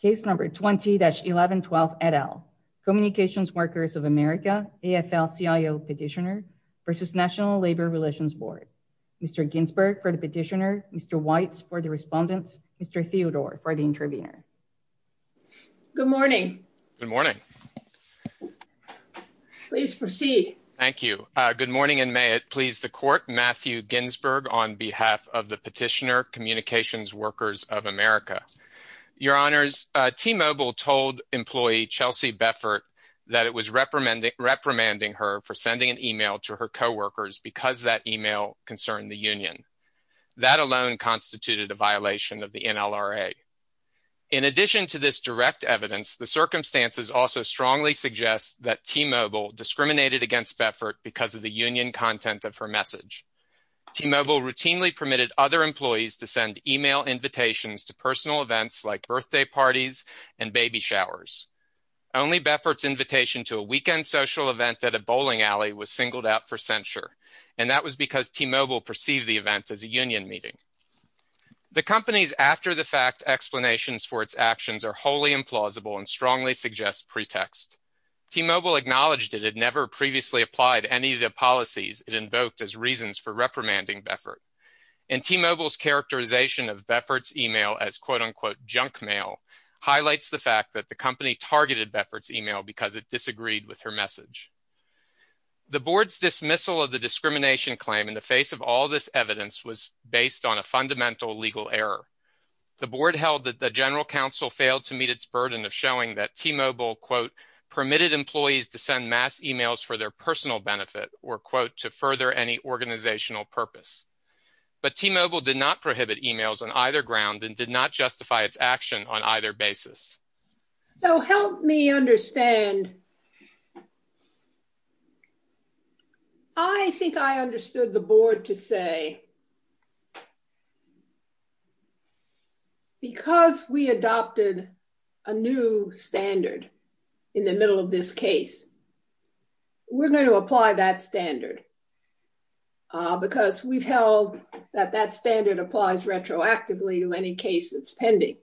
Case number 20-1112 et al. Communications Workers of America, AFL-CIO Petitioner v. National Labor Relations Board. Mr. Ginsberg for the petitioner, Mr. Weitz for the respondent, Mr. Theodore for the intervener. Good morning. Good morning. Please proceed. Thank you. Good morning and may it please the court, Matthew Ginsberg on behalf of the petitioner, Communications Workers of America. Your honors, T-Mobile told employee Chelsea Beffert that it was reprimanding her for sending an email to her co-workers because that email concerned the union. That alone constituted a violation of the NLRA. In addition to this direct evidence, the circumstances also strongly suggest that T-Mobile discriminated against Beffert because of the union content of her message. T-Mobile routinely permitted other employees to send email invitations to personal events like birthday parties and baby showers. Only Beffert's invitation to a weekend social event at a bowling alley was singled out for censure and that was because T-Mobile perceived the event as a union meeting. The company's after-the-fact explanations for its actions are wholly implausible and strongly suggest pretext. T-Mobile acknowledged it had never previously applied any of the policies it invoked as reasons for reprimanding Beffert and T-Mobile's characterization of Beffert's email as quote-unquote junk mail highlights the fact that the company targeted Beffert's email because it disagreed with her message. The board's dismissal of the discrimination claim in the face of all this evidence was based on a fundamental legal error. The board held that the general counsel failed to meet its burden of T-Mobile quote permitted employees to send mass emails for their personal benefit or quote to further any organizational purpose but T-Mobile did not prohibit emails on either ground and did not justify its action on either basis. So help me understand. I think I understood the board to say that because we adopted a new standard in the middle of this case we're going to apply that standard because we've held that that standard applies retroactively to any case that's pending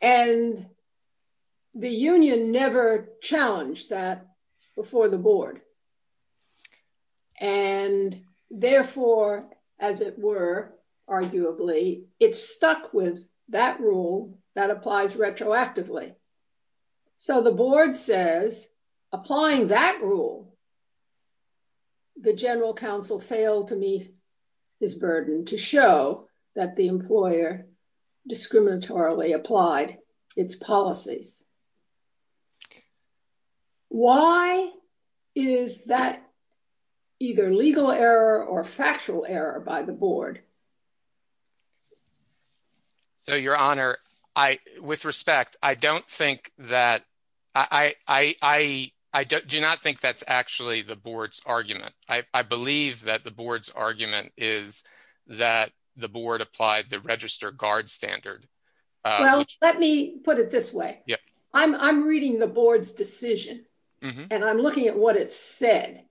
and the union never challenged that before the board and therefore as it were arguably it's stuck with that rule that applies retroactively. So the board says applying that rule the general counsel failed to meet his burden to show that the employer discriminatorily applied its policies. Why is that either legal error or factual error by the board? So your honor I with respect I don't think that I do not think that's actually the board's argument. I believe that the board's argument is that the board applied the register guard standard. Well let me put it this way. I'm reading the board's decision and I'm looking at what it said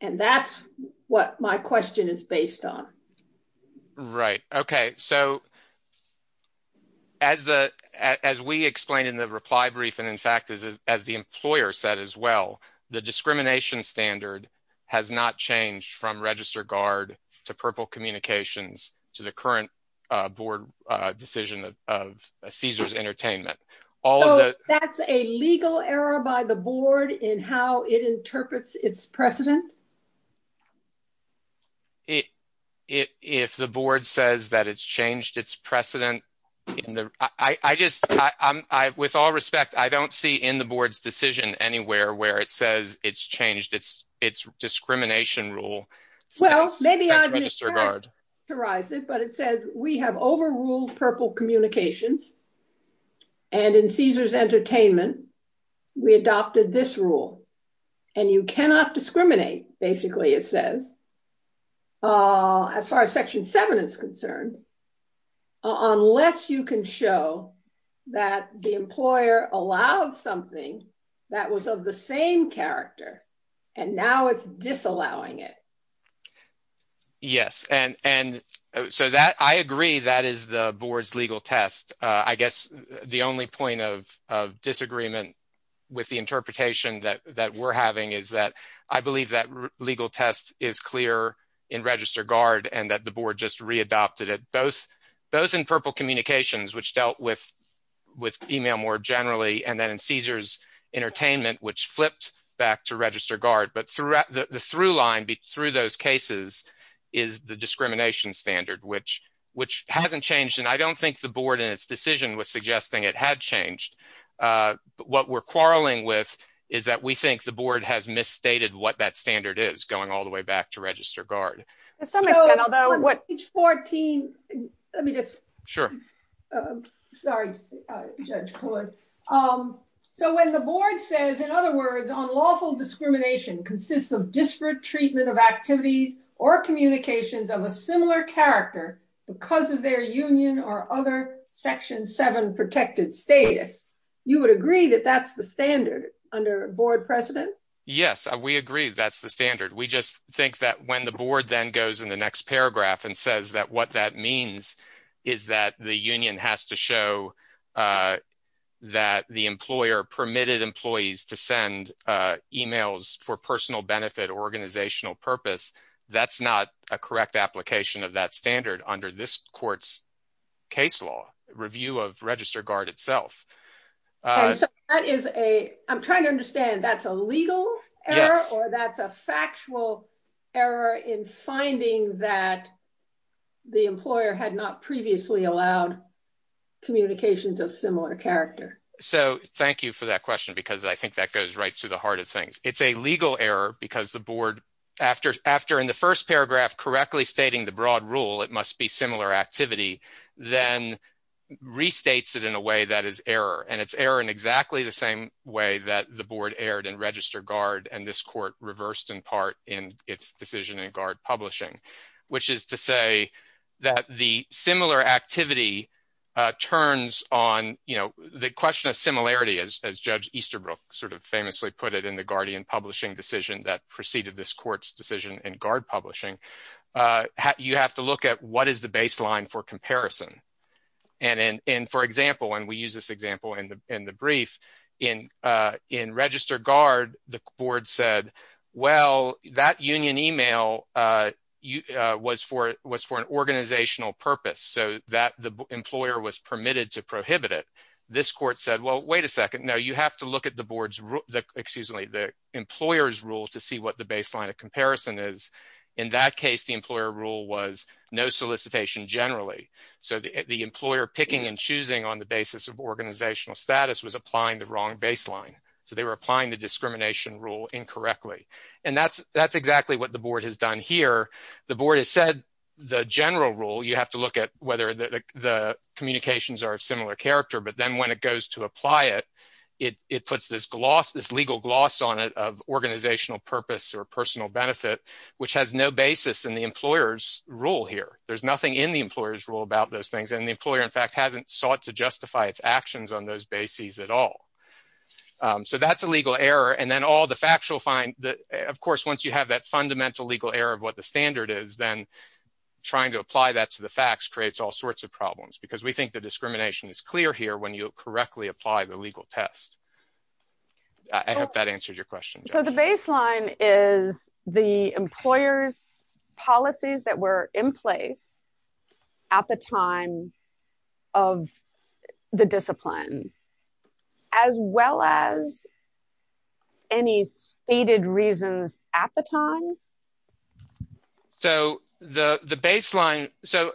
and that's what my question is based on. Right okay so as we explained in the reply brief and in fact as the employer said as well the discrimination standard has not changed from register guard to purple communications to the current board decision of Caesars Entertainment. So that's a legal error by the board in how it interprets its precedent? If the board says that it's changed its precedent in the I just I with all respect I don't see in the board's decision anywhere where it says it's changed its discrimination rule. Well and in Caesars Entertainment we adopted this rule and you cannot discriminate basically it says as far as section 7 is concerned unless you can show that the employer allowed something that was of the same character and now it's disallowing it. Yes and and so that I agree that is the board's legal test. I guess the only point of of disagreement with the interpretation that that we're having is that I believe that legal test is clear in register guard and that the board just readopted it both both in purple communications which dealt with with email more generally and then in Caesars Entertainment which flipped back to register guard. But throughout the through line through those cases is the discrimination standard which which hasn't changed and I don't think the board in its decision was suggesting it had changed. But what we're quarreling with is that we think the board has misstated what that standard is going all the way back to register guard. So when the board says in other words unlawful discrimination consists of disparate treatment of activities or communications of a similar character because of their union or other section 7 protected status you would agree that that's the standard under board precedent? Yes we agree that's the standard we just think that when the board then goes in the next paragraph and says that what that means is that the union has to show that the employer permitted employees to send emails for personal benefit organizational purpose that's not a correct application of that standard under this court's case law review of register guard itself. So that is a I'm trying to understand that's a legal error or that's a factual error in finding that the employer had not previously allowed communications of similar character. So thank you for that question because I think that goes right to the heart of things. It's a legal error because the board after in the first paragraph correctly stating the broad rule it must be similar activity then restates it in a way that is error and it's error in exactly the same way that the board erred in register guard and this court reversed in part in its decision in guard publishing which is to say that the similar activity turns on you know the question of similarity as judge Easterbrook sort of famously put it in the guardian publishing decision that preceded this court's decision in guard publishing you have to look at what is the baseline for comparison and for example when we use this board said well that union email was for an organizational purpose so that the employer was permitted to prohibit it this court said well wait a second no you have to look at the board's excuse me the employer's rule to see what the baseline of comparison is in that case the employer rule was no solicitation generally so the employer picking and choosing on the basis of organizational status was applying the wrong baseline so they were applying the discrimination rule incorrectly and that's that's exactly what the board has done here the board has said the general rule you have to look at whether the communications are of similar character but then when it goes to apply it it it puts this gloss this legal gloss on it of organizational purpose or personal benefit which has no basis in the employer's rule here there's nothing in the employer's rule about those things and the employer in fact hasn't sought to justify its actions on those bases at all so that's a legal error and then all the factual find that of course once you have that fundamental legal error of what the standard is then trying to apply that to the facts creates all sorts of problems because we think the discrimination is clear here when you correctly apply the legal test i hope that answered your question so the discipline as well as any stated reasons at the time so the the baseline so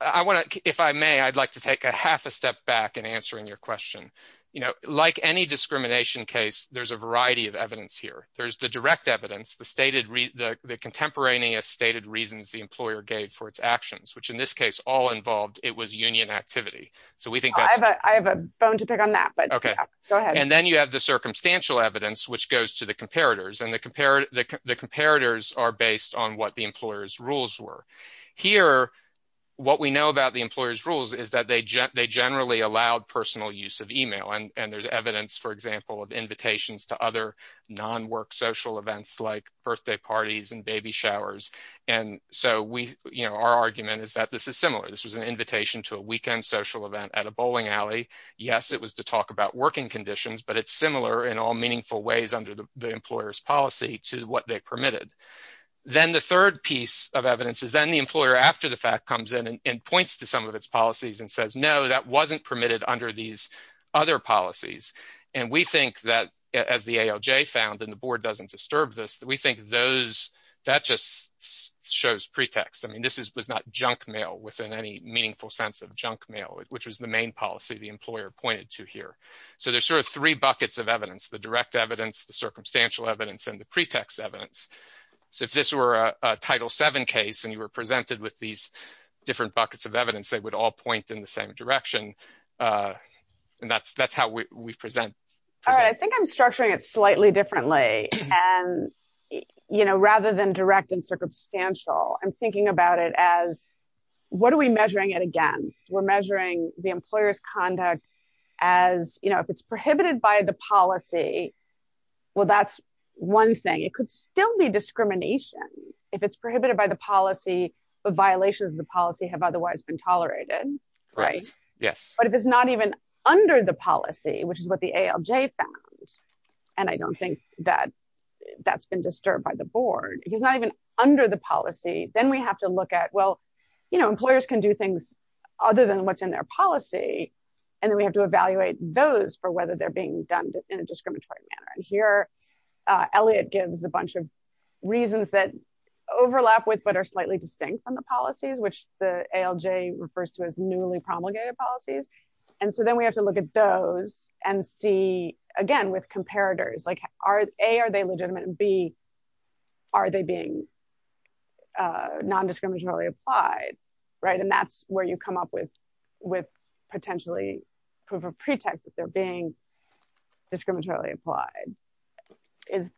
i want to if i may i'd like to take a half a step back and answering your question you know like any discrimination case there's a variety of evidence here there's the direct evidence the stated the contemporaneous stated reasons the employer gave for its actions which in this case all involved it was union activity so we think i have a bone to pick on that but okay go ahead and then you have the circumstantial evidence which goes to the comparators and the comparator the comparators are based on what the employer's rules were here what we know about the employer's rules is that they generally allowed personal use of email and and there's evidence for example of invitations to other non-work social events like birthday parties and baby showers and so we you this was an invitation to a weekend social event at a bowling alley yes it was to talk about working conditions but it's similar in all meaningful ways under the employer's policy to what they permitted then the third piece of evidence is then the employer after the fact comes in and points to some of its policies and says no that wasn't permitted under these other policies and we think that as the alj found and the board doesn't disturb this that we think those that just shows pretext i mean this is was not junk mail within any meaningful sense of junk mail which was the main policy the employer pointed to here so there's sort of three buckets of evidence the direct evidence the circumstantial evidence and the pretext evidence so if this were a title 7 case and you were presented with these different buckets of evidence they would all point in the same direction uh and that's that's how we we present all right i think i'm structuring it slightly differently and you know rather than direct and circumstantial i'm thinking about it as what are we measuring it against we're measuring the employer's conduct as you know if it's prohibited by the policy well that's one thing it could still be discrimination if it's prohibited by the policy but violations of the policy have otherwise been tolerated right yes but if it's not even under the policy which is what the alj found and i don't think that that's been disturbed by the board he's not even under the policy then we have to look at well you know employers can do things other than what's in their policy and then we have to evaluate those for whether they're being done in a discriminatory manner and here uh elliot gives a bunch of reasons that overlap with but are slightly distinct from the policies which the alj refers to as newly promulgated policies and so then we have to look at those and see again with comparators like are a are they legitimate and b are they being uh non-discriminatorily applied right and that's where you come up with with potentially proof of pretext that they're being discriminatorily applied is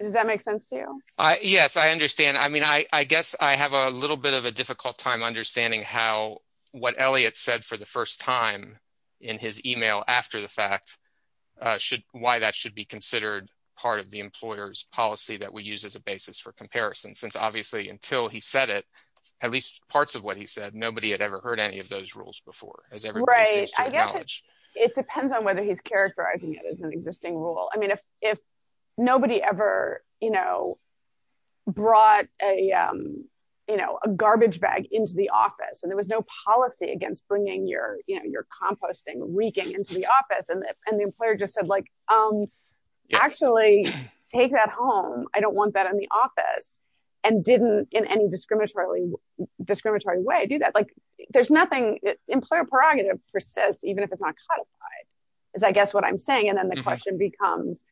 does that make sense to you i yes i understand i mean i i guess i have a little bit of a difficult time understanding how what elliot said for the first time in his email after the fact uh should why that should be considered part of the employer's policy that we use as a basis for comparison since obviously until he said it at least parts of what he said nobody had ever heard any of those rules before it depends on whether he's characterizing it as an existing rule i mean if if nobody ever you know brought a um you know a garbage bag into the office and there was no policy against bringing your you know your composting reeking into the office and and the employer just said like um actually take that home i don't want that in the office and didn't in any discriminatorily discriminatory way do that like there's nothing employer prerogative persists even if it's not codified is i guess what i'm saying and then the question becomes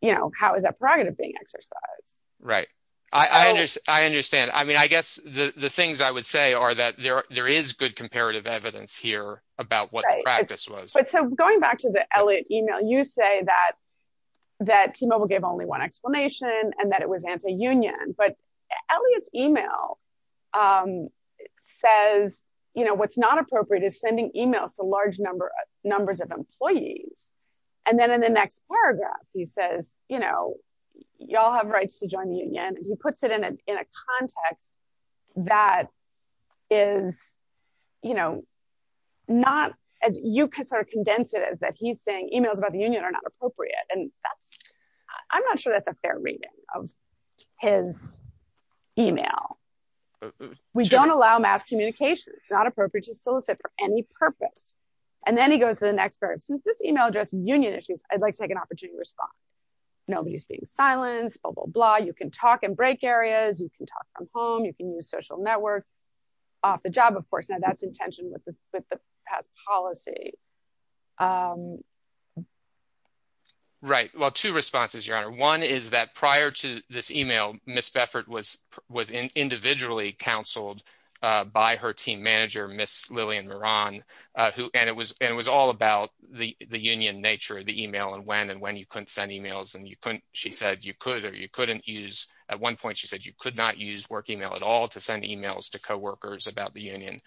you know how is that prerogative being exercised right i i understand i understand i mean i guess the the things i would say are that there there is good comparative evidence here about what the practice was but so going back to the elliot email you say that that t-mobile gave only one explanation and that it was anti-union but elliot's email um says you know what's not appropriate is sending emails to large number numbers of employees and then in the next paragraph he says you know y'all have rights to join the union and he puts it in a in a context that is you know not as you can sort of condense it as that he's saying emails about the union are not appropriate and that's i'm not sure that's a fair reading of his email we don't allow mass communication it's not appropriate to solicit for purpose and then he goes to the next part since this email address union issues i'd like to take an opportunity to respond nobody's being silenced blah blah blah you can talk and break areas you can talk from home you can use social networks off the job of course now that's intention with the with the past policy um right well two responses your honor one is that prior to this email miss uh who and it was and it was all about the the union nature of the email and when and when you couldn't send emails and you couldn't she said you could or you couldn't use at one point she said you could not use work email at all to send emails to co-workers about the union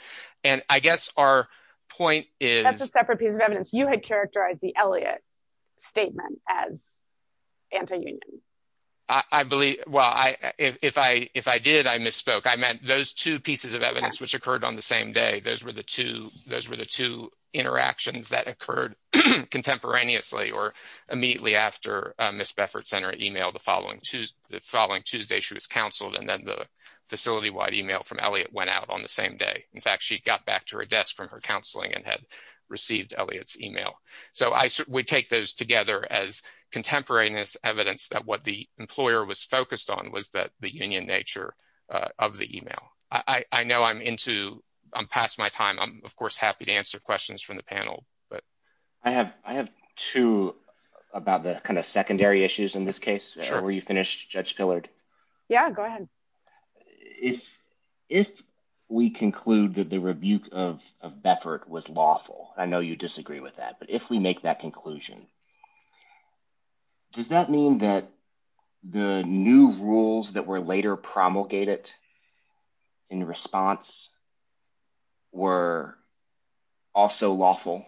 and i guess our point is that's a separate piece of evidence you had characterized the elliot statement as anti-union i i believe well i if i if i did i misspoke i meant those two pieces of evidence which occurred on the same day those were the two those were the two interactions that occurred contemporaneously or immediately after miss beffert sent her email the following tues the following tuesday she was counseled and then the facility-wide email from elliot went out on the same day in fact she got back to her desk from her counseling and had received elliot's email so i we take those together as contemporaneous evidence that what the employer was focused on was that the union nature uh of the email i i know i'm into i'm past my time i'm of course happy to answer questions from the panel but i have i have two about the kind of secondary issues in this case where you finished judge pillard yeah go ahead if if we conclude that the rebuke of of beffert was lawful i know you disagree with that but if we make that conclusion does that mean that the new rules that were later promulgated in response were also lawful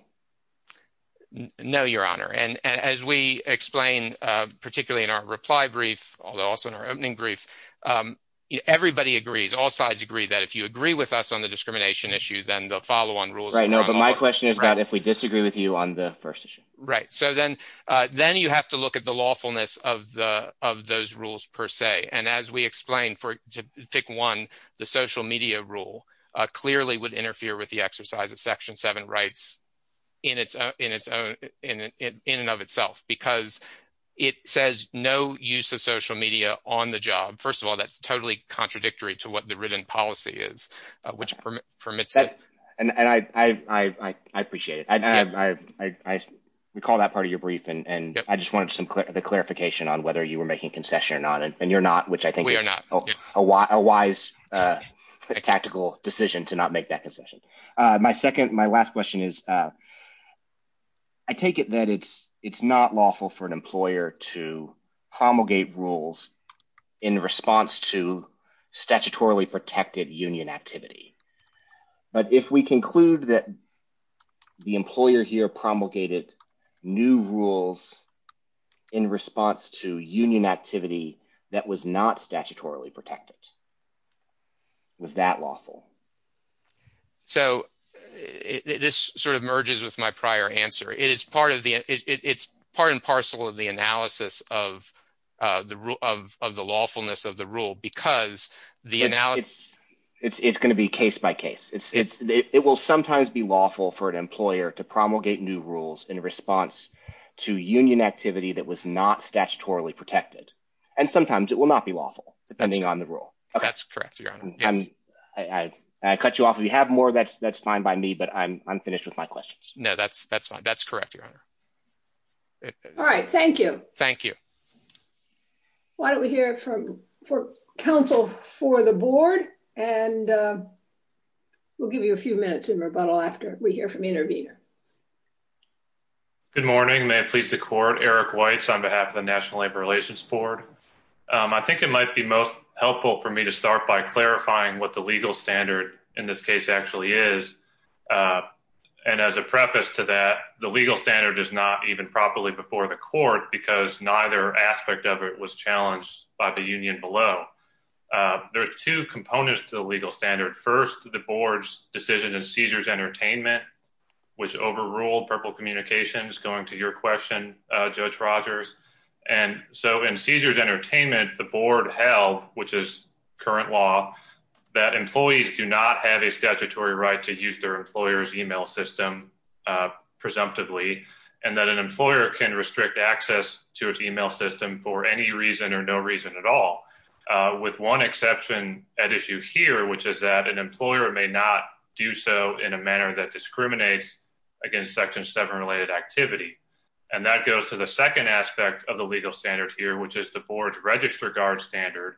no your honor and as we explain uh particularly in our reply brief although also in our opening brief um everybody agrees all sides agree that if you agree with us on the discrimination issue then the follow-on rules right no but my question is that if we disagree with you on the first right so then uh then you have to look at the lawfulness of the of those rules per se and as we explain for to pick one the social media rule uh clearly would interfere with the exercise of section 7 rights in its own in its own in in and of itself because it says no use of social media on the job first of all that's totally contradictory to what the written policy is which permits and and i i i i appreciate it i i i we call that part of your brief and and i just wanted some clarification on whether you were making concession or not and you're not which i think we are not a wise uh tactical decision to not make that concession uh my second my last question is uh i take it that it's it's not lawful for an employer to promulgate rules in response to statutorily protected union activity but if we conclude that the employer here promulgated new rules in response to union activity that was not statutorily protected was that lawful so this sort of merges with my prior answer it is part of the it's part and parcel of the analysis of uh the rule of of the lawfulness of the rule because the analysis it's it's going to be case by case it's it's it will sometimes be lawful for an employer to promulgate new rules in response to union activity that was not statutorily protected and sometimes it will not be lawful depending on the rule okay that's correct your honor i'm i i cut you off if you have more that's that's fine by me but i'm i'm finished with my questions no that's that's fine that's correct your honor all right thank you thank you why don't we hear from for counsel for the board and uh we'll give you a few minutes in rebuttal after we hear from intervener good morning may it please the court eric whites on behalf of the national labor relations board um i think it might be most helpful for me to start by clarifying what the legal standard in this case actually is uh and as a preface to that the legal standard is not even properly before the court because neither aspect of it was challenged by the union below there's two components to the legal standard first the board's decision in seizures entertainment which overruled purple communications going to your question uh judge rogers and so in seizures entertainment the board held which is current law that employees do not have a statutory right to use their employer's email system uh presumptively and that an employer can restrict access to its email system for any reason or no reason at all uh with one exception at issue here which is that an employer may not do so in a manner that discriminates against section 7 related activity and that goes to the second aspect of the legal standard here which is the board's register guard standard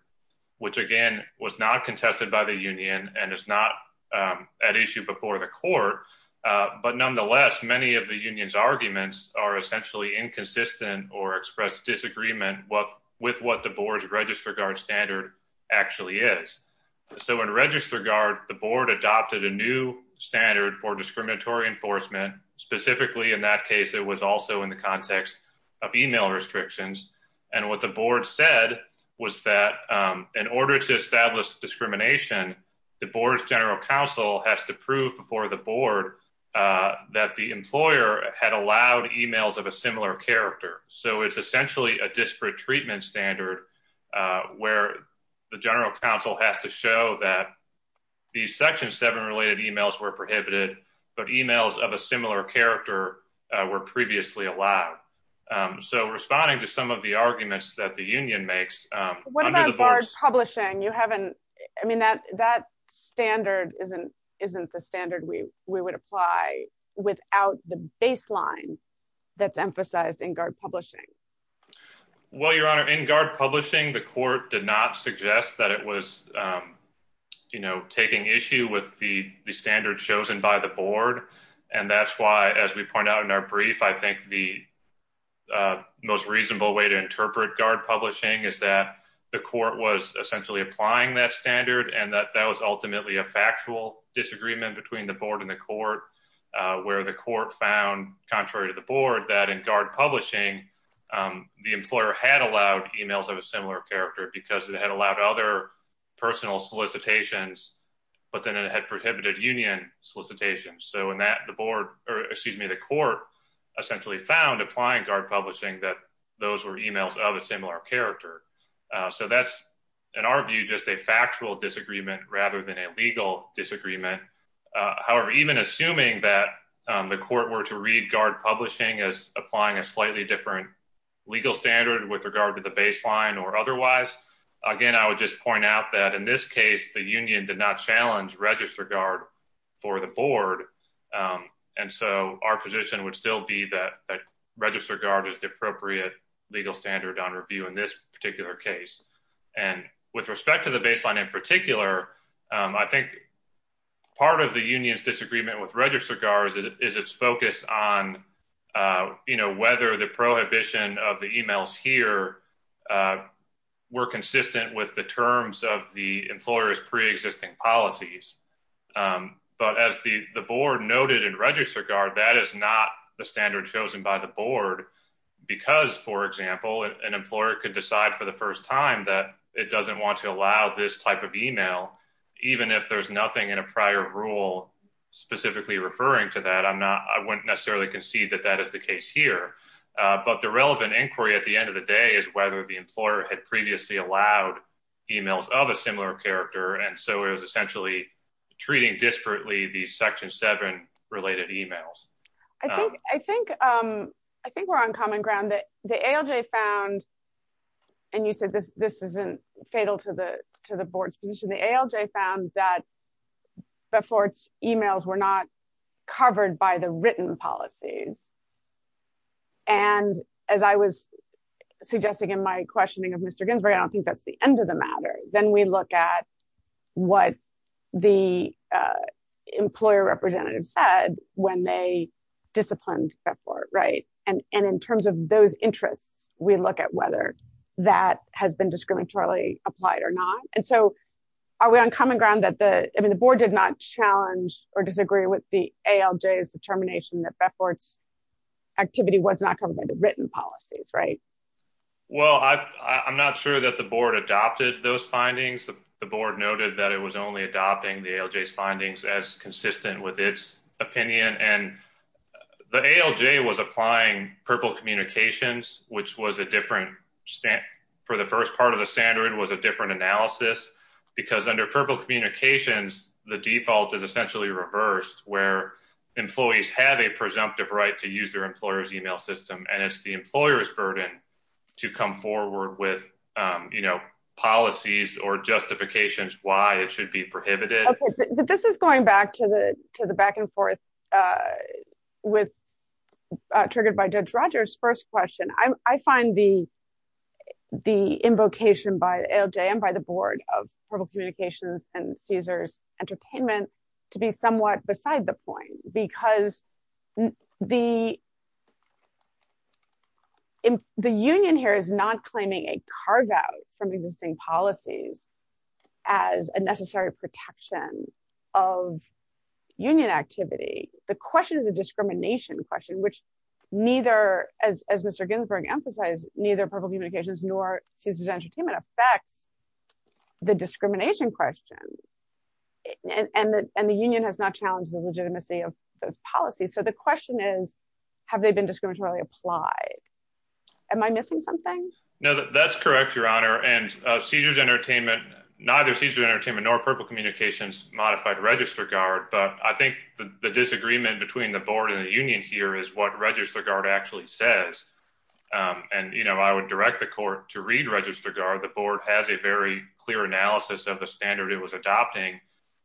which again was not contested by the union and is not um at issue before the court uh but nonetheless many of the union's arguments are essentially inconsistent or express disagreement what with what the board's register guard standard actually is so in register guard the board adopted a new standard for discriminatory enforcement specifically in that case it was also in the context of email restrictions and what the board said was that um in order to establish discrimination the board's general counsel has to prove before the board uh that the employer had allowed emails of a similar character so it's essentially a disparate treatment standard uh where the general counsel has to show that these section 7 related emails were prohibited but emails of a similar character were previously allowed um so responding to some of the arguments that the union makes um what about barge publishing you haven't i mean that that standard isn't isn't the standard we we would apply without the baseline that's emphasized in guard publishing well your honor in guard publishing the court did not suggest that it was um you know taking issue with the the standard chosen by the board and that's why as we point out in our brief i think the uh most reasonable way to interpret guard publishing is that the court was essentially applying that standard and that that was ultimately a factual disagreement between the board and the court uh where the court found contrary to the board that in guard publishing um the employer had allowed emails of a similar character because it allowed other personal solicitations but then it had prohibited union solicitations so in that the board or excuse me the court essentially found applying guard publishing that those were emails of a similar character so that's in our view just a factual disagreement rather than a legal disagreement however even assuming that the court were to read guard publishing as applying a i would just point out that in this case the union did not challenge register guard for the board um and so our position would still be that that register guard is the appropriate legal standard on review in this particular case and with respect to the baseline in particular i think part of the union's disagreement with register guards is its focus on uh you know whether the prohibition of the emails here were consistent with the terms of the employer's pre-existing policies but as the the board noted in register guard that is not the standard chosen by the board because for example an employer could decide for the first time that it doesn't want to allow this type of email even if there's nothing in a prior rule specifically referring to that i'm not i wouldn't necessarily concede that that is the case here uh but the relevant inquiry at the end of the day is whether the employer had previously allowed emails of a similar character and so it was essentially treating disparately these section seven related emails i think i think um i think we're on common ground that the alj found and you said this this isn't fatal to to the board's position the alj found that before its emails were not covered by the written policies and as i was suggesting in my questioning of mr ginsburg i don't think that's the end of the matter then we look at what the uh employer representative said when they disciplined before right and and in terms of those interests we look at whether that has been discriminatory applied or not and so are we on common ground that the i mean the board did not challenge or disagree with the alj's determination that befort's activity was not covered by the written policies right well i i'm not sure that the board adopted those findings the board noted that it was only adopting the alj's findings as consistent with its opinion and the alj was applying purple communications which was a different stamp for the first part of the standard was a different analysis because under purple communications the default is essentially reversed where employees have a presumptive right to use their employer's email system and it's the employer's burden to come forward with um you know policies or justifications why it should be prohibited but this is going back to the to the back and forth uh with uh triggered by judge rogers first question i'm i find the the invocation by alj and by the board of purple communications and caesar's entertainment to be somewhat beside the point because the in the union here is not claiming a carve-out from existing policies as a necessary protection of union activity the question is a discrimination question which neither as as mr ginsburg emphasized neither purple communications nor caesar's entertainment affects the discrimination question and and the and the union has not challenged the legitimacy of those policies so the question is have they been discriminatory applied am i missing something no that's correct your honor and caesar's entertainment neither caesar's entertainment nor purple communications modified register guard but i think the disagreement between the board and the union here is what register guard actually says um and you know i would direct the court to read register guard the board has a very clear analysis of the standard it was adopting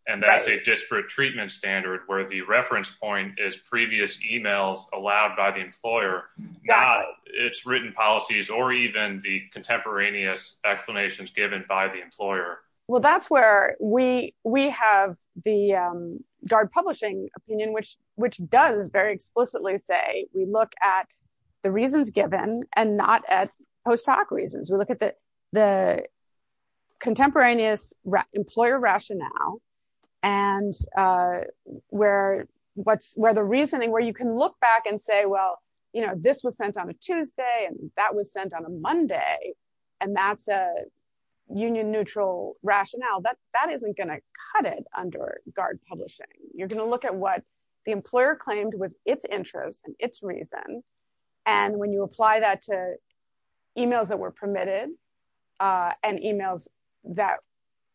and that's a disparate treatment standard where the reference point is previous emails allowed by the employer not its written policies or even the contemporaneous explanations given by the employer well that's where we we have the um guard publishing opinion which which does very explicitly say we look at the reasons given and not at post-hoc reasons we look at the the contemporaneous employer rationale and uh where what's where the reasoning where you can look back and say well you know this was sent on a tuesday and that was sent on a monday and that's a union neutral rationale that that isn't going to cut it under guard publishing you're going to look at what the employer claimed was its interest and its reason and when you apply that to emails that were permitted uh and emails that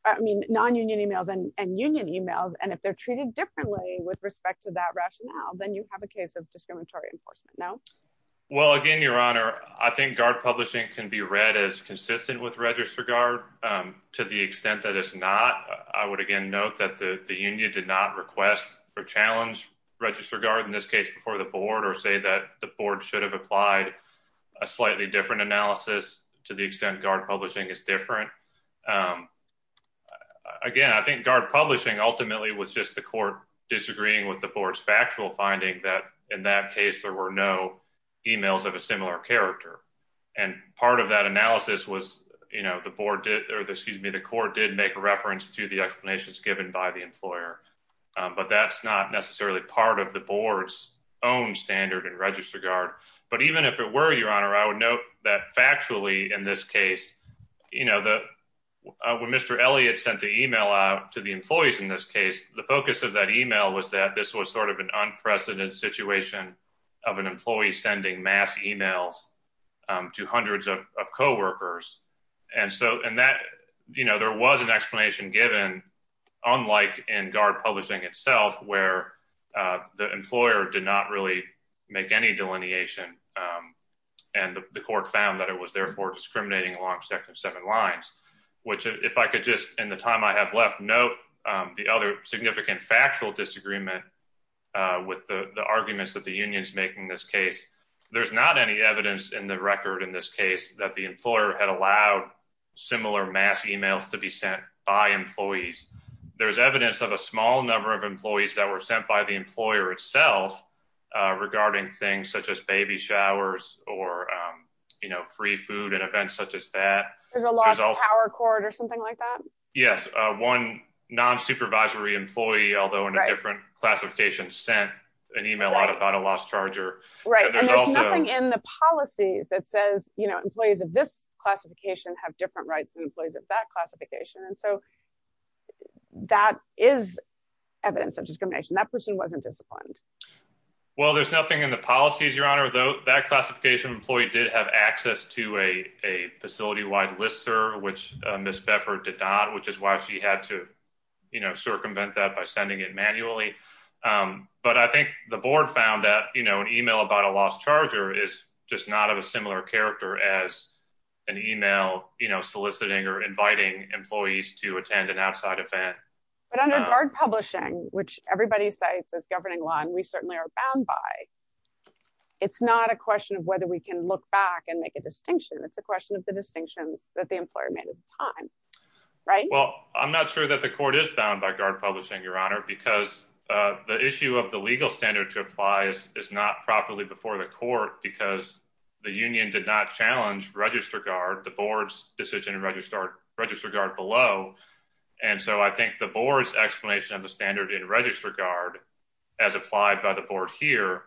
i mean non-union emails and union emails and if they're treated differently with respect to that rationale then you have a case of discriminatory enforcement no well again your honor i think guard publishing can be read as consistent with register guard um to the extent that it's not i would again note that the the union did not request or challenge register guard in this case before the board or say that the board should have applied a slightly different analysis to the extent guard publishing is different um again i think guard publishing ultimately was just the court disagreeing with the board's factual finding that in that case there were no emails of a similar character and part of that analysis was you know the board did or excuse me the court did make a reference to the explanations given by the employer but that's not necessarily part of the board's own standard and register guard but even if it were your honor i would note that factually in this case you know the when mr elliott sent the email out to the employees in this case the focus of that email was that this was sort of an unprecedented situation of an employee sending mass emails to hundreds of co-workers and so and you know there was an explanation given unlike in guard publishing itself where the employer did not really make any delineation um and the court found that it was therefore discriminating along section seven lines which if i could just in the time i have left note um the other significant factual disagreement uh with the the arguments that the union's making this case there's not any evidence in the record in this case that the employer had allowed similar mass emails to be sent by employees there's evidence of a small number of employees that were sent by the employer itself uh regarding things such as baby showers or um you know free food and events such as that there's a lost power cord or something like that yes uh one non-supervisory employee although in a different classification sent an email out about a lost charger right and there's nothing in the policies that says you know employees of this classification have different rights than employees of that classification and so that is evidence of discrimination that person wasn't disciplined well there's nothing in the policies your honor though that classification employee did have access to a a facility-wide listserv which miss beffer did not which is why she had to you know circumvent that by sending it manually um but i think the board found that you know an email about a lost charger is just not of similar character as an email you know soliciting or inviting employees to attend an outside event but under guard publishing which everybody cites as governing law and we certainly are bound by it's not a question of whether we can look back and make a distinction it's a question of the distinctions that the employer made at the time right well i'm not sure that the court is bound by guard publishing your honor because uh the issue of the legal standard to apply is not properly before the court because the union did not challenge register guard the board's decision and register register guard below and so i think the board's explanation of the standard in register guard as applied by the board here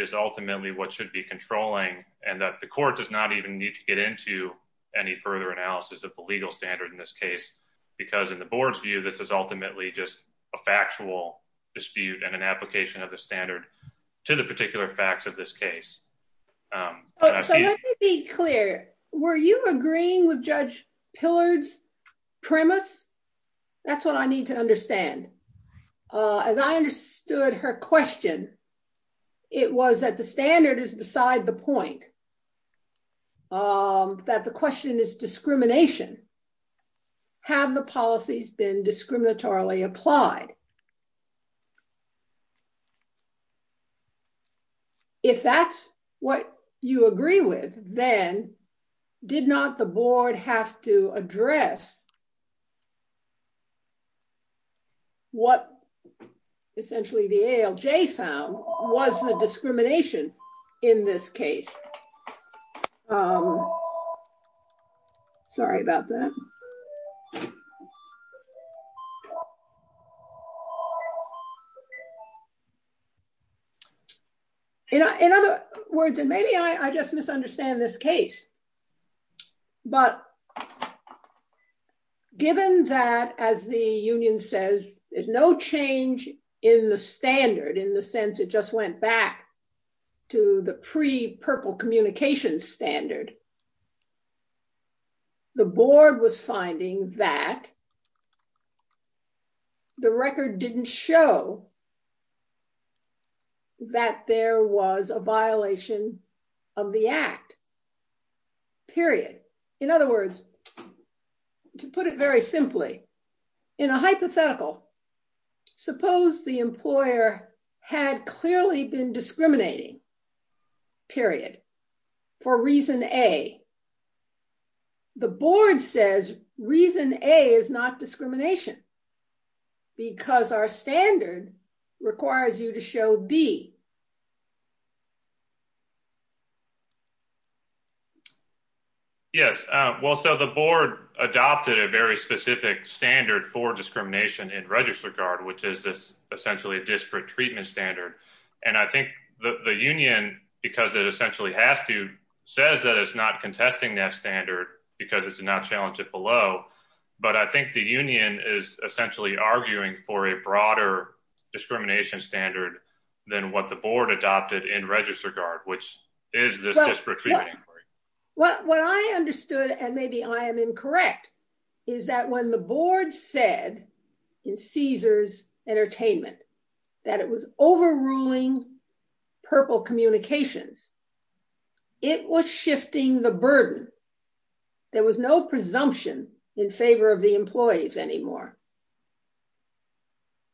is ultimately what should be controlling and that the court does not even need to get into any further analysis of the legal standard in this case because in the board's view this is ultimately just a factual dispute and an application of standard to the particular facts of this case um so let me be clear were you agreeing with judge pillard's premise that's what i need to understand uh as i understood her question it was that the standard is beside the point um that the question is discrimination have the policies been discriminatorily applied if that's what you agree with then did not the board have to address what essentially the alj found was the discrimination in this case um sorry about that you know in other words and maybe i i just misunderstand this case but given that as the union says there's no change in the standard in the sense it just went back to the pre-purple communication standard the board was finding that the record didn't show that there was a violation of the act period in other words to put it very simply in a hypothetical suppose the employer had clearly been discriminating period for reason a the board says reason a is not discrimination because our standard requires you to show b yes uh well so the board adopted a very specific standard for discrimination in register guard which is this essentially a disparate treatment standard and i think the the union because it essentially has to says that it's not contesting that standard because it did not challenge it below but i think the union is essentially arguing for a broader discrimination standard than what the board adopted in register guard which is this disparate treatment inquiry well what i understood and maybe i am incorrect is that when the board said in caesar's entertainment that it was overruling purple communications it was shifting the burden there was no presumption in favor of the employees anymore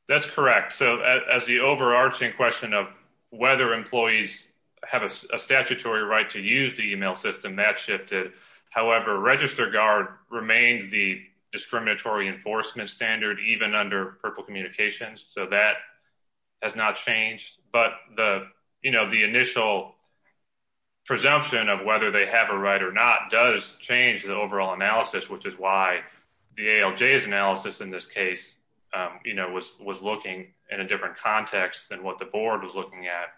that's correct so as the overarching question of whether employees have a statutory right to use the email system that shifted however register guard remained the discriminatory enforcement standard even under purple communications so that has not changed but the you know the initial presumption of whether they have a right or not does change the overall analysis which is why the alj's analysis in this case um you know was was looking in a different context than what the board was looking at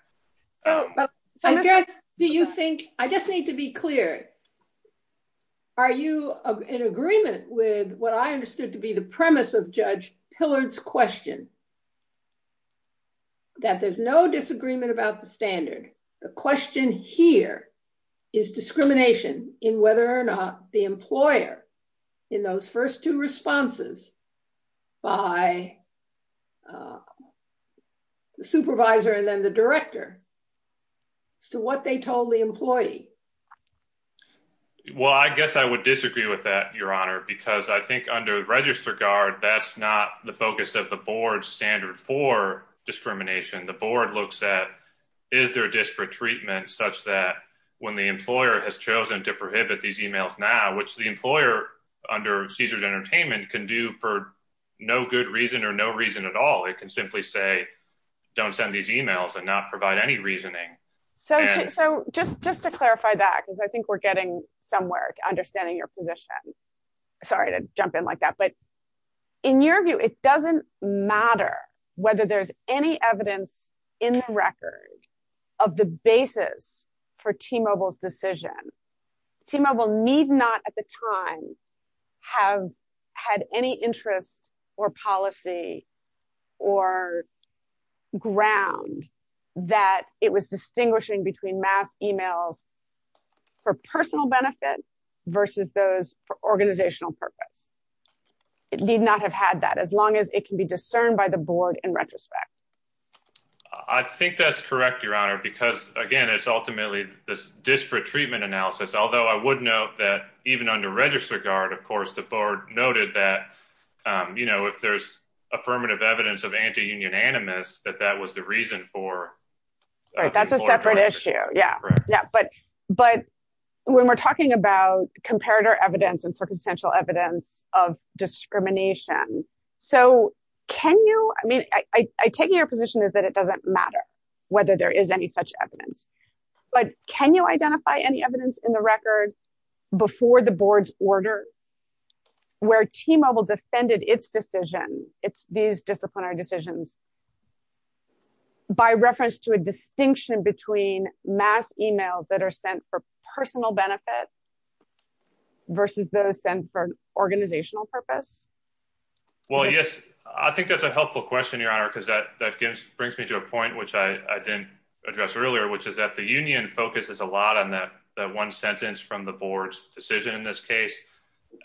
so i guess do you think i just need to be clear are you in agreement with what i understood to be the premise of judge hillard's question that there's no disagreement about the standard the question here is discrimination in whether the employer in those first two responses by the supervisor and then the director as to what they told the employee well i guess i would disagree with that your honor because i think under register guard that's not the focus of the board standard for discrimination the board looks at is there disparate treatment such that when the employer has chosen to prohibit these emails now which the employer under caesar's entertainment can do for no good reason or no reason at all it can simply say don't send these emails and not provide any reasoning so so just just to clarify that because i think we're getting some work understanding your position sorry to jump in like that but in your view it doesn't matter whether there's any evidence in the record of the basis for t-mobile's decision t-mobile need not at the time have had any interest or policy or ground that it was distinguishing between mass emails for personal benefit versus those for organizational purpose it need not have had that as long as it can be discerned by the board in retrospect i think that's correct your honor because again it's ultimately this disparate treatment analysis although i would note that even under register guard of course the board noted that um you know if there's affirmative evidence of anti-union animus that that was the reason for right that's a separate issue yeah yeah but but when we're talking about comparator evidence and circumstantial evidence of discrimination so can you i mean i i take your position is that it doesn't matter whether there is any such evidence but can you identify any evidence in the record before the board's order where t-mobile defended its decision it's these disciplinary decisions by reference to a distinction between mass emails that are sent for personal benefit versus those sent for organizational purpose well yes i think that's a helpful question your honor because that that gives brings me to a point which i i didn't address earlier which is that the union focuses a lot on that that one sentence from the board's decision in this case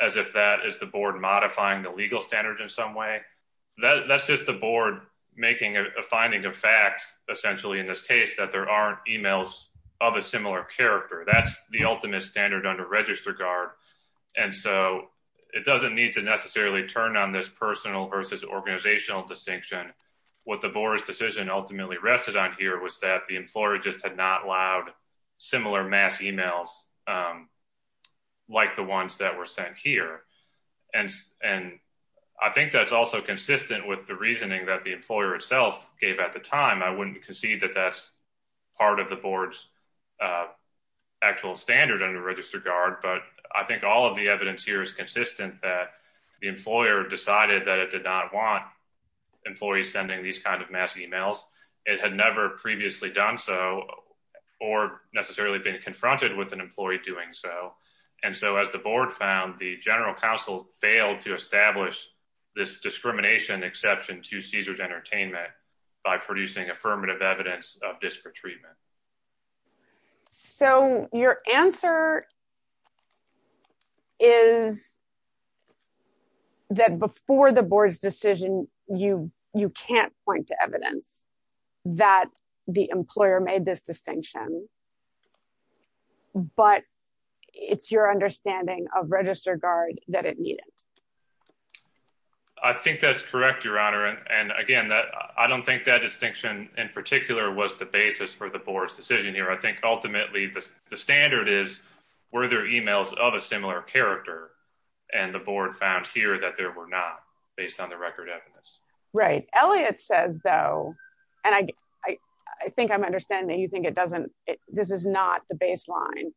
as if that is the board modifying the legal standards in some way that that's just the board making a finding of fact essentially in this case that there aren't of a similar character that's the ultimate standard under register guard and so it doesn't need to necessarily turn on this personal versus organizational distinction what the board's decision ultimately rested on here was that the employer just had not allowed similar mass emails like the ones that were sent here and and i think that's also consistent with the reasoning that the board's actual standard under register guard but i think all of the evidence here is consistent that the employer decided that it did not want employees sending these kind of mass emails it had never previously done so or necessarily been confronted with an employee doing so and so as the board found the general counsel failed to establish this discrimination exception to caesar's entertainment by producing affirmative evidence of disparate treatment so your answer is that before the board's decision you you can't point to evidence that the employer made this distinction but it's your understanding of register guard that it needed i think that's correct your honor and again that i don't think that distinction in particular was the basis for the board's decision here i think ultimately the standard is were there emails of a similar character and the board found here that there were not based on the record evidence right elliott says though and i i think i'm understanding you think it doesn't this is not the baseline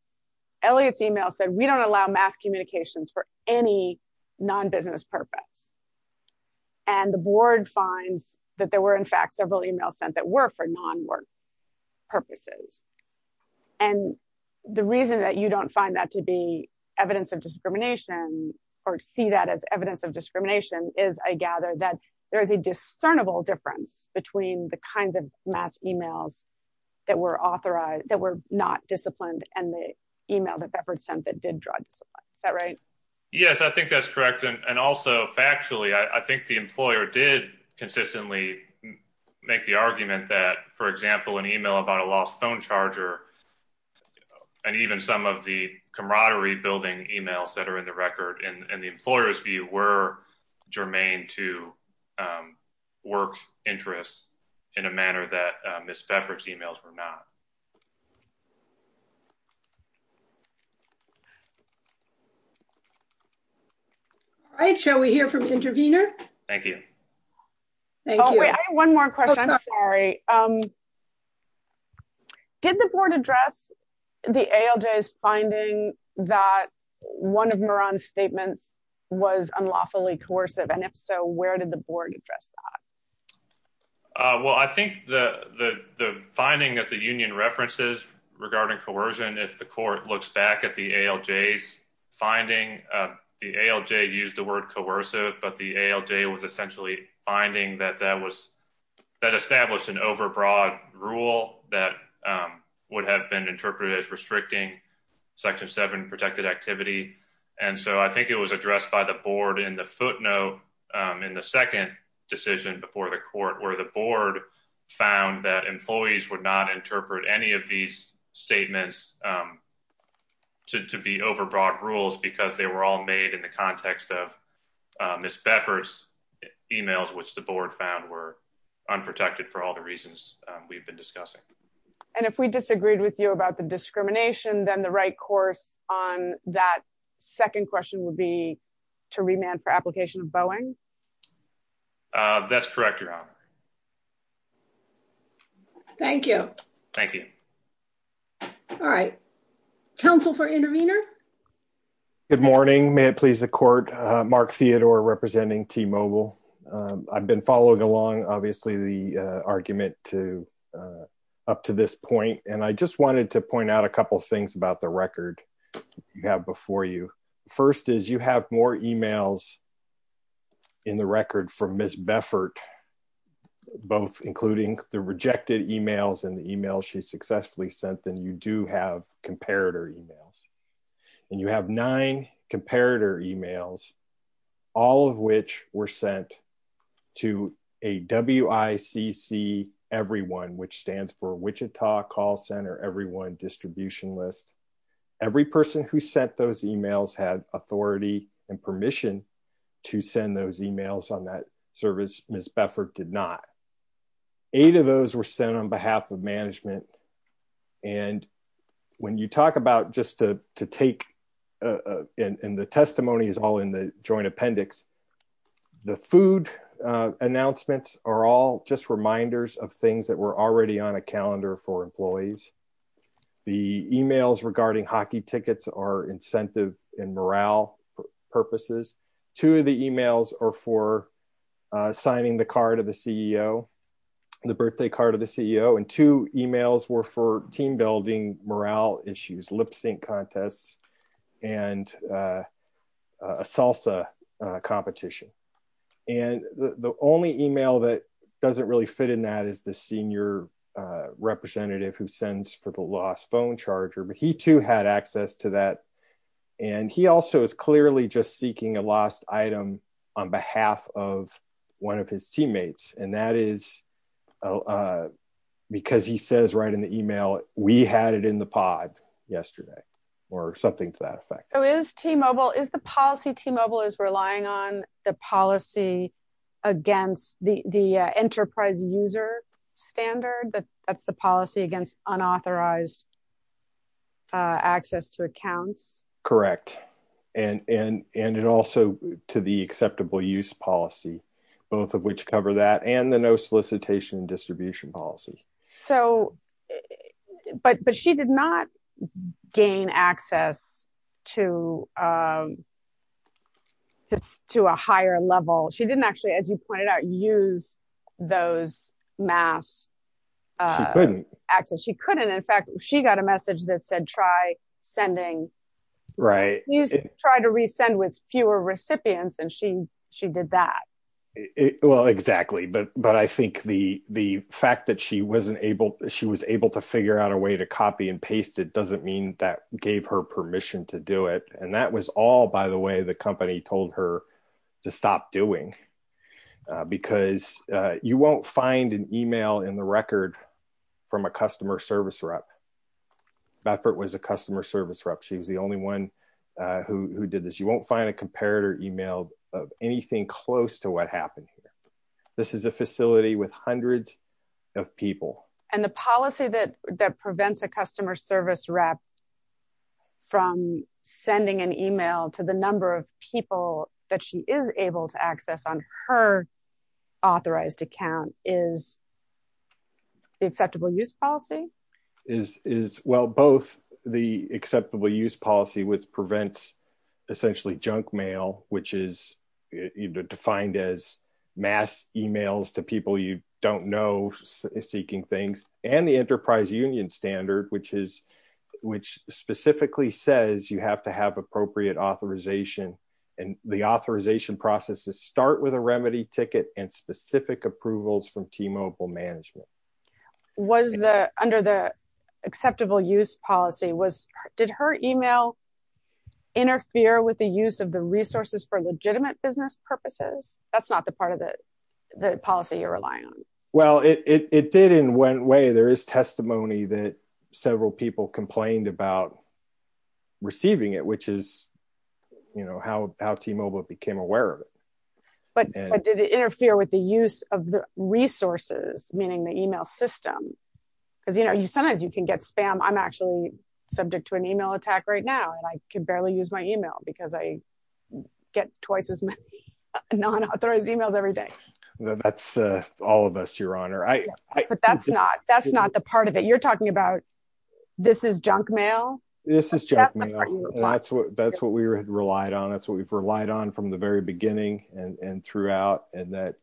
elliott's email said we don't allow mass communications for any non-business purpose and the board finds that there were in fact several emails sent that were for non-work purposes and the reason that you don't find that to be evidence of discrimination or see that as evidence of discrimination is i gather that there is a discernible difference between the kinds of mass emails that were authorized that were not disciplined and the email that beverage sent that is that right yes i think that's correct and also factually i i think the employer did consistently make the argument that for example an email about a lost phone charger and even some of the camaraderie building emails that are in the record and the employer's view were germane to um work interests in a manner that miss beverage emails were not um all right shall we hear from intervener thank you thank you one more question i'm sorry um did the board address the alj's finding that one of maran's statements was unlawfully coercive and if so where did the board address that uh well i think the the the finding that the union references regarding coercion if the court looks back at the alj's finding uh the alj used the word coercive but the alj was essentially finding that that was that established an overbroad rule that um would have been interpreted as restricting section 7 protected activity and so i think it was addressed by the board in the footnote um in the second decision before the court where the board found that employees would not interpret any of these statements um to be overbroad rules because they were all made in the context of miss beffers emails which the board found were unprotected for all the reasons we've been discussing and if we disagreed with you about the discrimination then the right course on that second question would be to remand for application boeing uh that's correct your honor thank you thank you all right council for intervener good morning may it please the court uh mark theodore representing t-mobile um i've been following along obviously the argument to uh up to this point and i just wanted to point out a couple things about the record you have before you first is you have more emails in the record from miss beffert both including the rejected emails and the emails she successfully sent then you do have comparator emails and you have nine comparator emails all of which were sent to a wicc everyone which stands for wichita call center everyone distribution list every person who sent those emails had authority and permission to send those emails on that service miss beffert did not eight of those were sent on behalf of management and when you talk about just to to take uh and and the testimony is all in the joint appendix the food uh announcements are all just reminders of things that were already on a calendar for employees the emails regarding hockey tickets are incentive and morale purposes two of the emails are for uh signing the card of the ceo the birthday card of the ceo and two emails were for team building morale issues lip sync contests and a salsa competition and the only email that doesn't really fit in that is the senior representative who sends for the lost phone charger but he too had access to that and he also is clearly just seeking a lost item on behalf of one of his teammates and that is uh because he says right in the email we had it in the pod yesterday or something to that effect so is t-mobile is the policy t-mobile is relying on the policy against the the enterprise user standard that that's the policy against unauthorized uh access to accounts correct and and and it also to the acceptable use policy both of which cover that and the no solicitation and distribution policies so but but she did not gain access to um just to a higher level she didn't actually as you pointed out use those mass uh access she couldn't in fact she got a message that said try sending right you try to resend with fewer recipients and she she did that well exactly but but i think the the fact that she wasn't able she was able to figure out a way to copy and paste it doesn't mean that gave her permission to do it and that was all by the way the company told her to stop doing because you won't find an email in the record from a customer service rep beffert was a customer service rep she was the only one uh who did this you won't find a comparator email of anything close to what happened here this is a facility with hundreds of people and the policy that that prevents a customer service rep from sending an email to the number of people that she is able to access on her authorized account is the acceptable use policy is is well both the acceptable use policy which prevents essentially junk mail which is defined as mass emails to people you don't know seeking things and the enterprise union standard which is which specifically says you have to have appropriate authorization and the authorization processes start with a remedy ticket and specific approvals from t-mobile management was the under the acceptable use policy was did her email interfere with the use of the resources for legitimate business purposes that's not the part of the the policy you're relying on well it it did in one way there is testimony that several people complained about receiving it which is you know how how t-mobile became aware of it but did it interfere with the use of the resources meaning the email system because you know you sometimes you can get spam i'm actually subject to an email attack right now and i can barely use my email because i get twice as many non-authorized emails every day that's uh all of us your honor i but that's not that's not the part of it you're talking about this is junk mail this is junk mail that's what that's what we relied on that's what we've relied on from the throughout and that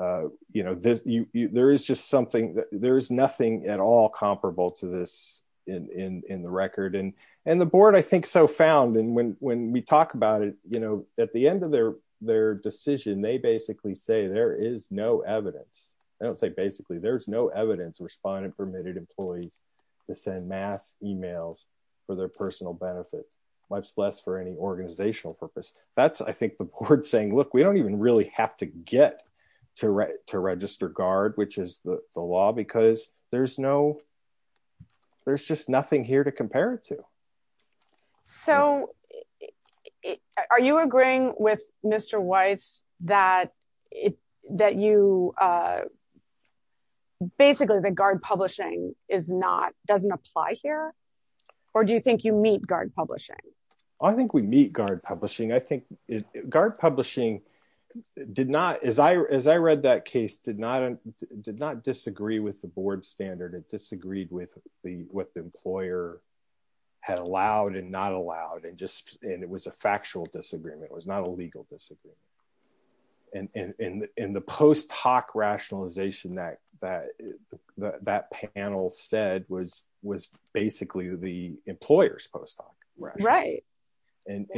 uh uh you know this you there is just something that there is nothing at all comparable to this in in in the record and and the board i think so found and when when we talk about it you know at the end of their their decision they basically say there is no evidence i don't say basically there's no evidence respondent permitted employees to send mass emails for their personal benefit much less for any organizational purpose that's i think the board is saying look we don't even really have to get to write to register guard which is the the law because there's no there's just nothing here to compare it to so are you agreeing with mr weiss that it that you uh basically the guard publishing is not doesn't apply here or do you think you meet guard publishing i think we meet guard publishing i think guard publishing did not as i as i read that case did not did not disagree with the board standard it disagreed with the what the employer had allowed and not allowed and just and it was a factual disagreement it was not a legal disagreement and in in the post hoc rationalization that that that panel said was was basically the employer's post hoc right right and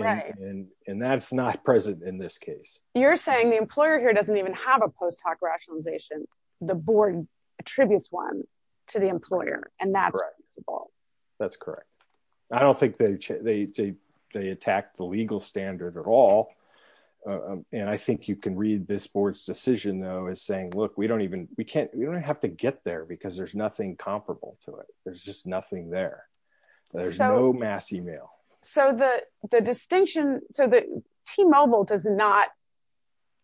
and that's not present in this case you're saying the employer here doesn't even have a post hoc rationalization the board attributes one to the employer and that's that's correct i don't think they they they attacked the legal standard at all and i think you can read this board's decision though is saying look we don't even we can't we don't have to get there because there's nothing comparable to it there's just nothing there there's no mass email so the the distinction so the t-mobile does not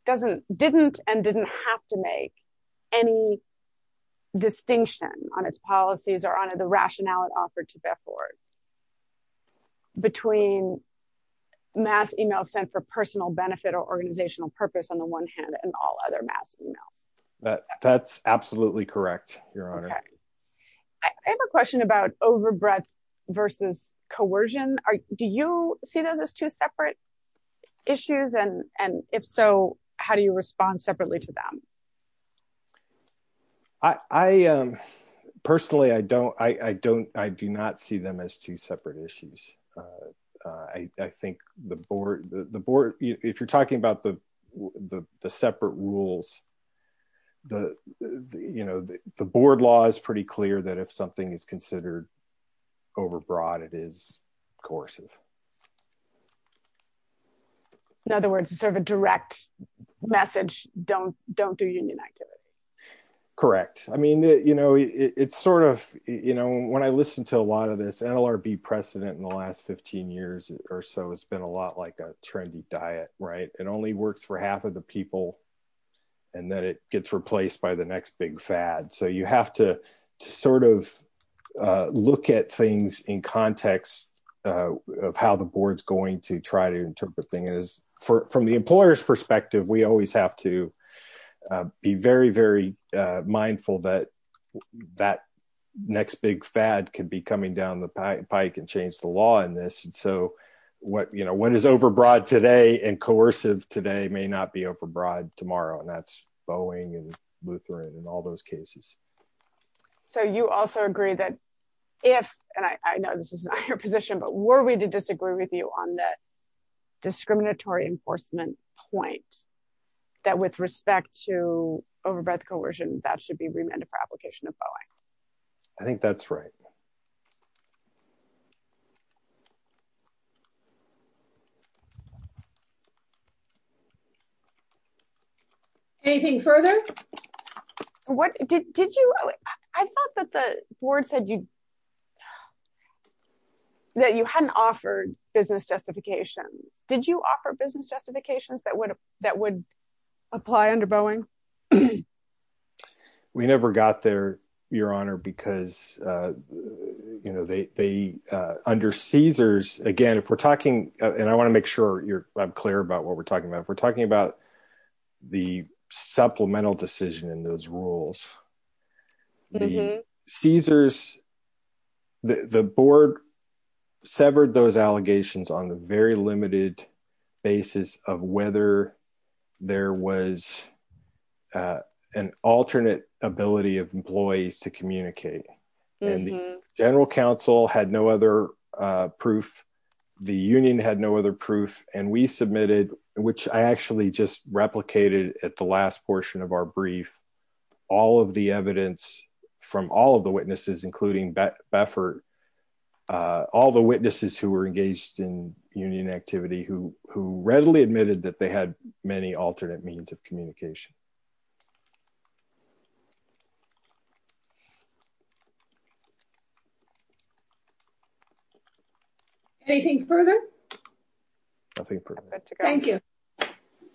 doesn't didn't and didn't have to make any distinction on its policies or on the rationale it offered to bear forward between mass email sent for personal benefit or organizational purpose on the one hand and all other mass emails that that's absolutely correct your honor i have a question about overbreadth versus coercion are do you see those as two separate issues and and if so how do you respond separately to them i i um personally i don't i i don't i do not see them as two separate issues uh i i think the board the board if you're talking about the the separate rules the you know the board law is pretty clear that if something is considered overbroad it is coercive in other words it's sort of a direct message don't don't do union activity correct i mean you know it's sort of you know when i listened to a lot of this nlrb precedent in the last 15 years or so it's been a lot like a trendy diet right it only works for half of the people and then it gets replaced by the next big fad so you have to sort of look at things in context of how the board's going to try to interpret thing is for from the employer's perspective we always have to be very very uh mindful that that next big fad could be coming down the pike and change the law in this and so what you know what is overbroad today and coercive today may not be overbroad tomorrow and that's boeing and lutheran and all those cases so you also agree that if and i i know this is not your position but were we to disagree with you on the discriminatory enforcement point that with respect to overbred coercion that should be remanded for application of boeing i think that's right anything further what did did you i thought that the board said you that you hadn't offered business justifications did you offer business justifications that would that would apply under boeing we never got there your honor because uh you know they they uh under caesars again if we're talking and i want to make sure you're i'm clear about what we're talking about if we're talking about the supplemental decision in those rules the caesars the board severed those allegations on the very limited basis of whether there was an alternate ability of employees to communicate and the general counsel had no other proof the union had no other proof and we submitted which i actually just replicated at the last portion of our brief all of the evidence from all of the witnesses including beffert uh all the witnesses who were engaged in union activity who who readily admitted that they had many alternate means of communication anything further nothing thank you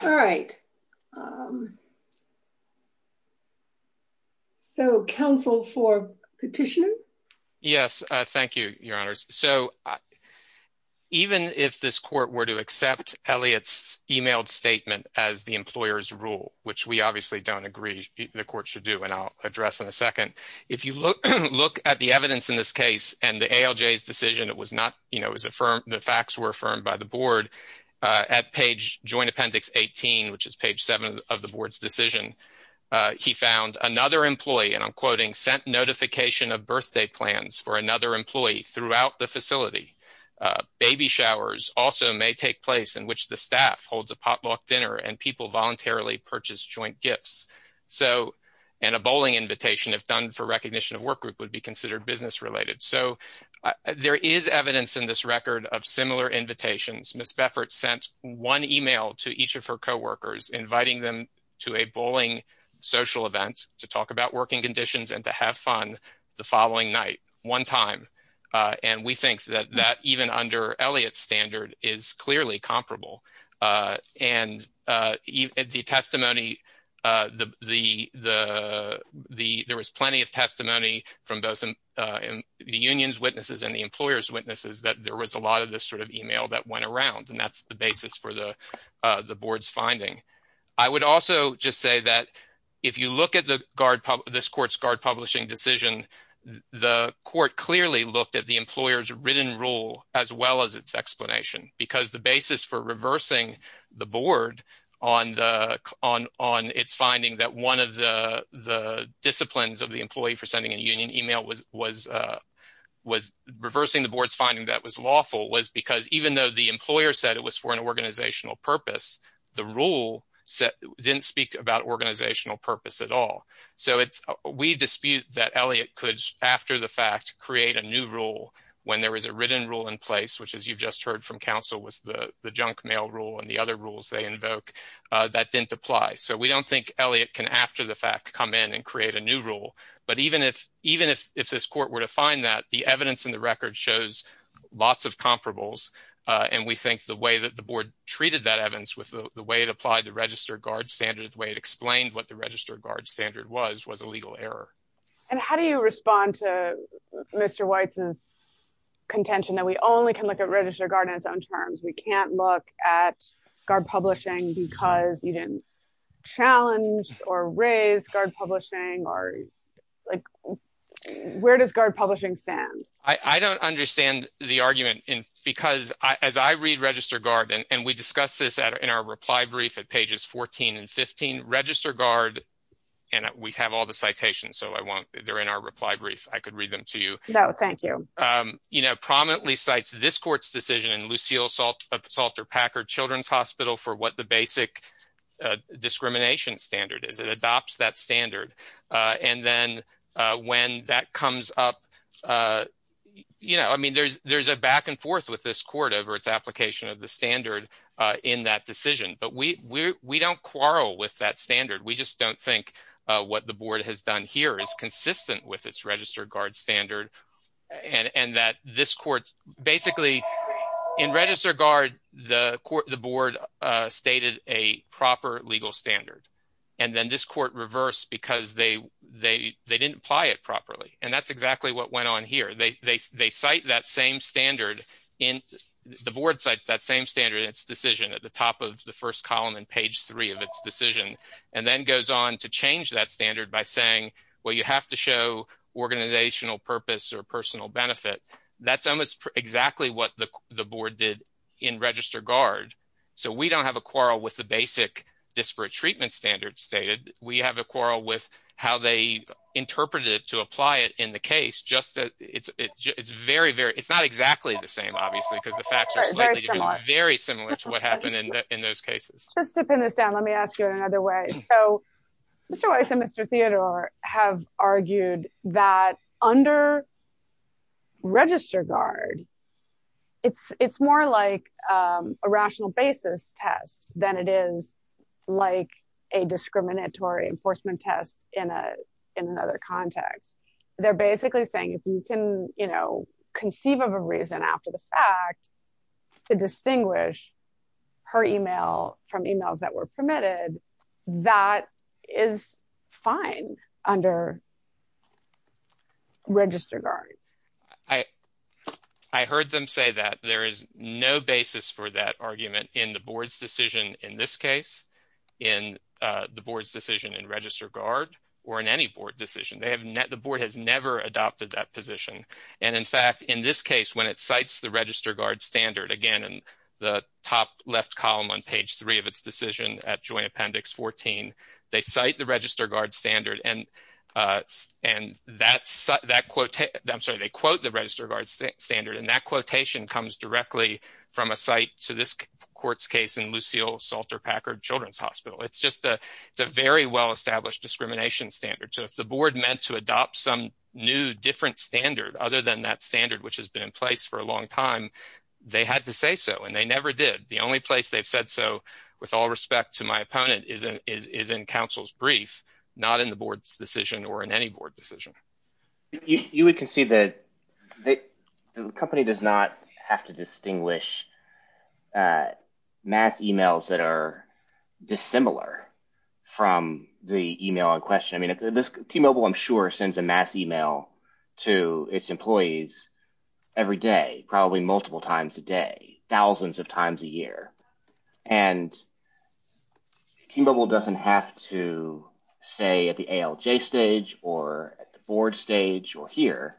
all right um so counsel for petition yes uh thank you your honors so even if this court were to accept elliott's emailed statement as the employer's rule which we obviously don't agree the court should do and i'll address in a second if you look look at the evidence in this case and the alj's decision it was not you know as affirmed the facts were affirmed by the board uh at page joint appendix 18 which is page 7 of the board's decision uh he found another employee and i'm quoting sent notification of birthday plans for another employee throughout the facility baby showers also may take place in which the staff holds a potluck dinner and people voluntarily purchase joint gifts so and a bowling invitation if done for recognition of work group would be considered business related so there is evidence in this record of similar invitations miss beffert sent one email to each of her co-workers inviting them to a bowling social event to talk about working conditions and to have fun the following night one time uh and we think that that even under elliott's standard is clearly comparable uh and uh even the testimony uh the the the the there was plenty of testimony from both uh the union's witnesses and the employer's for the uh the board's finding i would also just say that if you look at the guard this court's guard publishing decision the court clearly looked at the employer's written rule as well as its explanation because the basis for reversing the board on the on on its finding that one of the the disciplines of the employee for sending a union email was was uh was reversing the board's that was lawful was because even though the employer said it was for an organizational purpose the rule said didn't speak about organizational purpose at all so it's we dispute that elliott could after the fact create a new rule when there was a written rule in place which as you've just heard from council was the the junk mail rule and the other rules they invoke uh that didn't apply so we don't think elliott can after the fact come in and create a new rule but even if even if if this court were to find that the evidence in the record shows lots of comparables uh and we think the way that the board treated that evidence with the way it applied the register guard standard the way it explained what the register guard standard was was a legal error and how do you respond to mr white's contention that we only can look at register guard in its own terms we can't look at guard publishing because you didn't challenge or raise guard publishing or like where does guard publishing stand i i don't understand the argument in because i as i read register guard and we discussed this at in our reply brief at pages 14 and 15 register guard and we have all the citations so i won't they're in our reply brief i could read them to you no thank you um you know prominently cites this court's decision in lucille salt salter packard children's hospital for what the basic uh discrimination standard is it adopts that standard uh and then uh when that comes up uh you know i mean there's there's a back and forth with this court over its application of the standard uh in that decision but we we don't quarrel with that standard we just don't think uh what the board has done here is consistent with its register guard standard and and that this court basically in register guard the court the board uh stated a proper legal standard and then this court reversed because they they they didn't apply it properly and that's exactly what went on here they they cite that same standard in the board sites that same standard its decision at the top of the first column in page three of its decision and then goes on to change that standard by saying well you have to show organizational purpose or guard so we don't have a quarrel with the basic disparate treatment standard stated we have a quarrel with how they interpreted it to apply it in the case just that it's it's very very it's not exactly the same obviously because the facts are slightly very similar to what happened in those cases just to pin this down let me ask you in another way so mr weiss and mr theodore have argued that under register guard it's it's more like um a rational basis test than it is like a discriminatory enforcement test in a in another context they're basically saying if you can you know conceive of a reason after the fact to distinguish her email from emails that were permitted that is fine under register guard i i heard them say that there is no basis for that argument in the board's decision in this case in uh the board's decision in register guard or in any board decision they have net the board has never adopted that position and in fact in this case when it cites the register guard standard again in the top left column on page three of its decision at joint appendix 14 they cite the register guard standard and uh and that's that quote i'm sorry they quote the register guard standard and that quotation comes directly from a site to this court's case in lucille salter packard children's hospital it's just a it's a very well established discrimination standard so if the board meant to adopt some new different standard other than that standard which has been in place for a long time they had to say so and they never did the only place they've said so with all respect to my opponent is in is in counsel's brief not in the board's decision or in any board decision you would concede that the company does not have to distinguish uh mass emails that are dissimilar from the email in question i mean this t-mobile i'm sure sends a mass email to its employees every day probably multiple times a day thousands of times a year and t-mobile doesn't have to say at the alj stage or at the board stage or here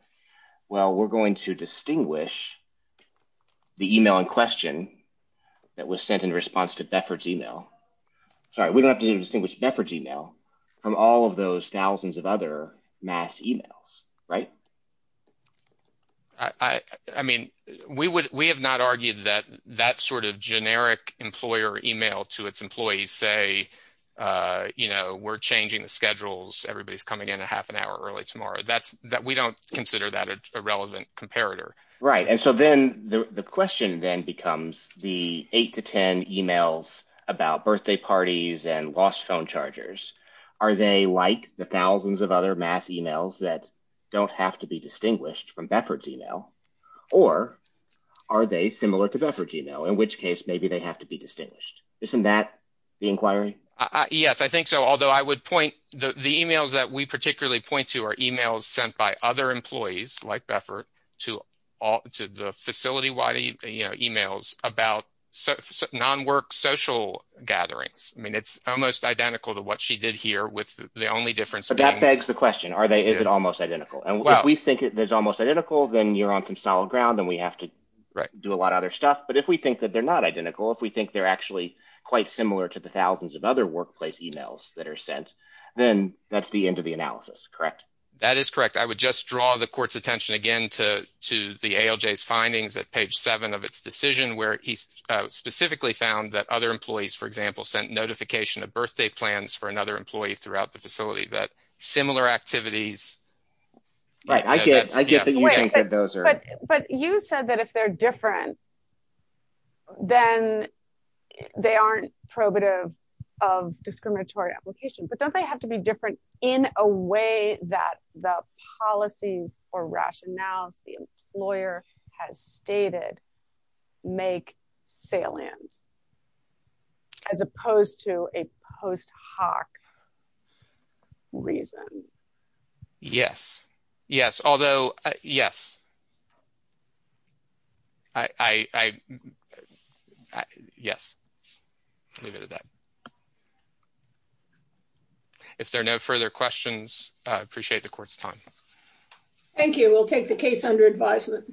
well we're going to distinguish the email in question that was sent in response to befford's email sorry we don't have to distinguish befford's email from all of those thousands of other mass emails right i i mean we would we have not argued that that sort of generic employer email to its employees say uh you know we're changing the schedules everybody's coming in a half an hour early tomorrow that's that we don't consider that a relevant comparator right and so then the question then becomes the eight to ten emails about birthday parties and lost phone chargers are they like the thousands of other mass emails that don't have to be distinguished from befford's email or are they similar to befford's email in which case maybe they have to be distinguished isn't that the inquiry yes i think so although i would point the emails that we particularly point to are emails sent by other employees like beffert to all to the facility emails about non-work social gatherings i mean it's almost identical to what she did here with the only difference that begs the question are they is it almost identical and if we think there's almost identical then you're on some solid ground and we have to do a lot of other stuff but if we think that they're not identical if we think they're actually quite similar to the thousands of other workplace emails that are sent then that's the end of the analysis correct that is correct i would just draw the court's attention again to to the alj's findings at page seven of its decision where he specifically found that other employees for example sent notification of birthday plans for another employee throughout the facility that similar activities right i get i get that but you said that if they're different then they aren't probative of discriminatory application but don't they have to be different in a way that the policies or rationales the employer has stated make salient as opposed to a post hoc reason yes yes although yes i i i yes i'll leave it at that if there are no further questions i appreciate the court's time thank you we'll take the case under advisement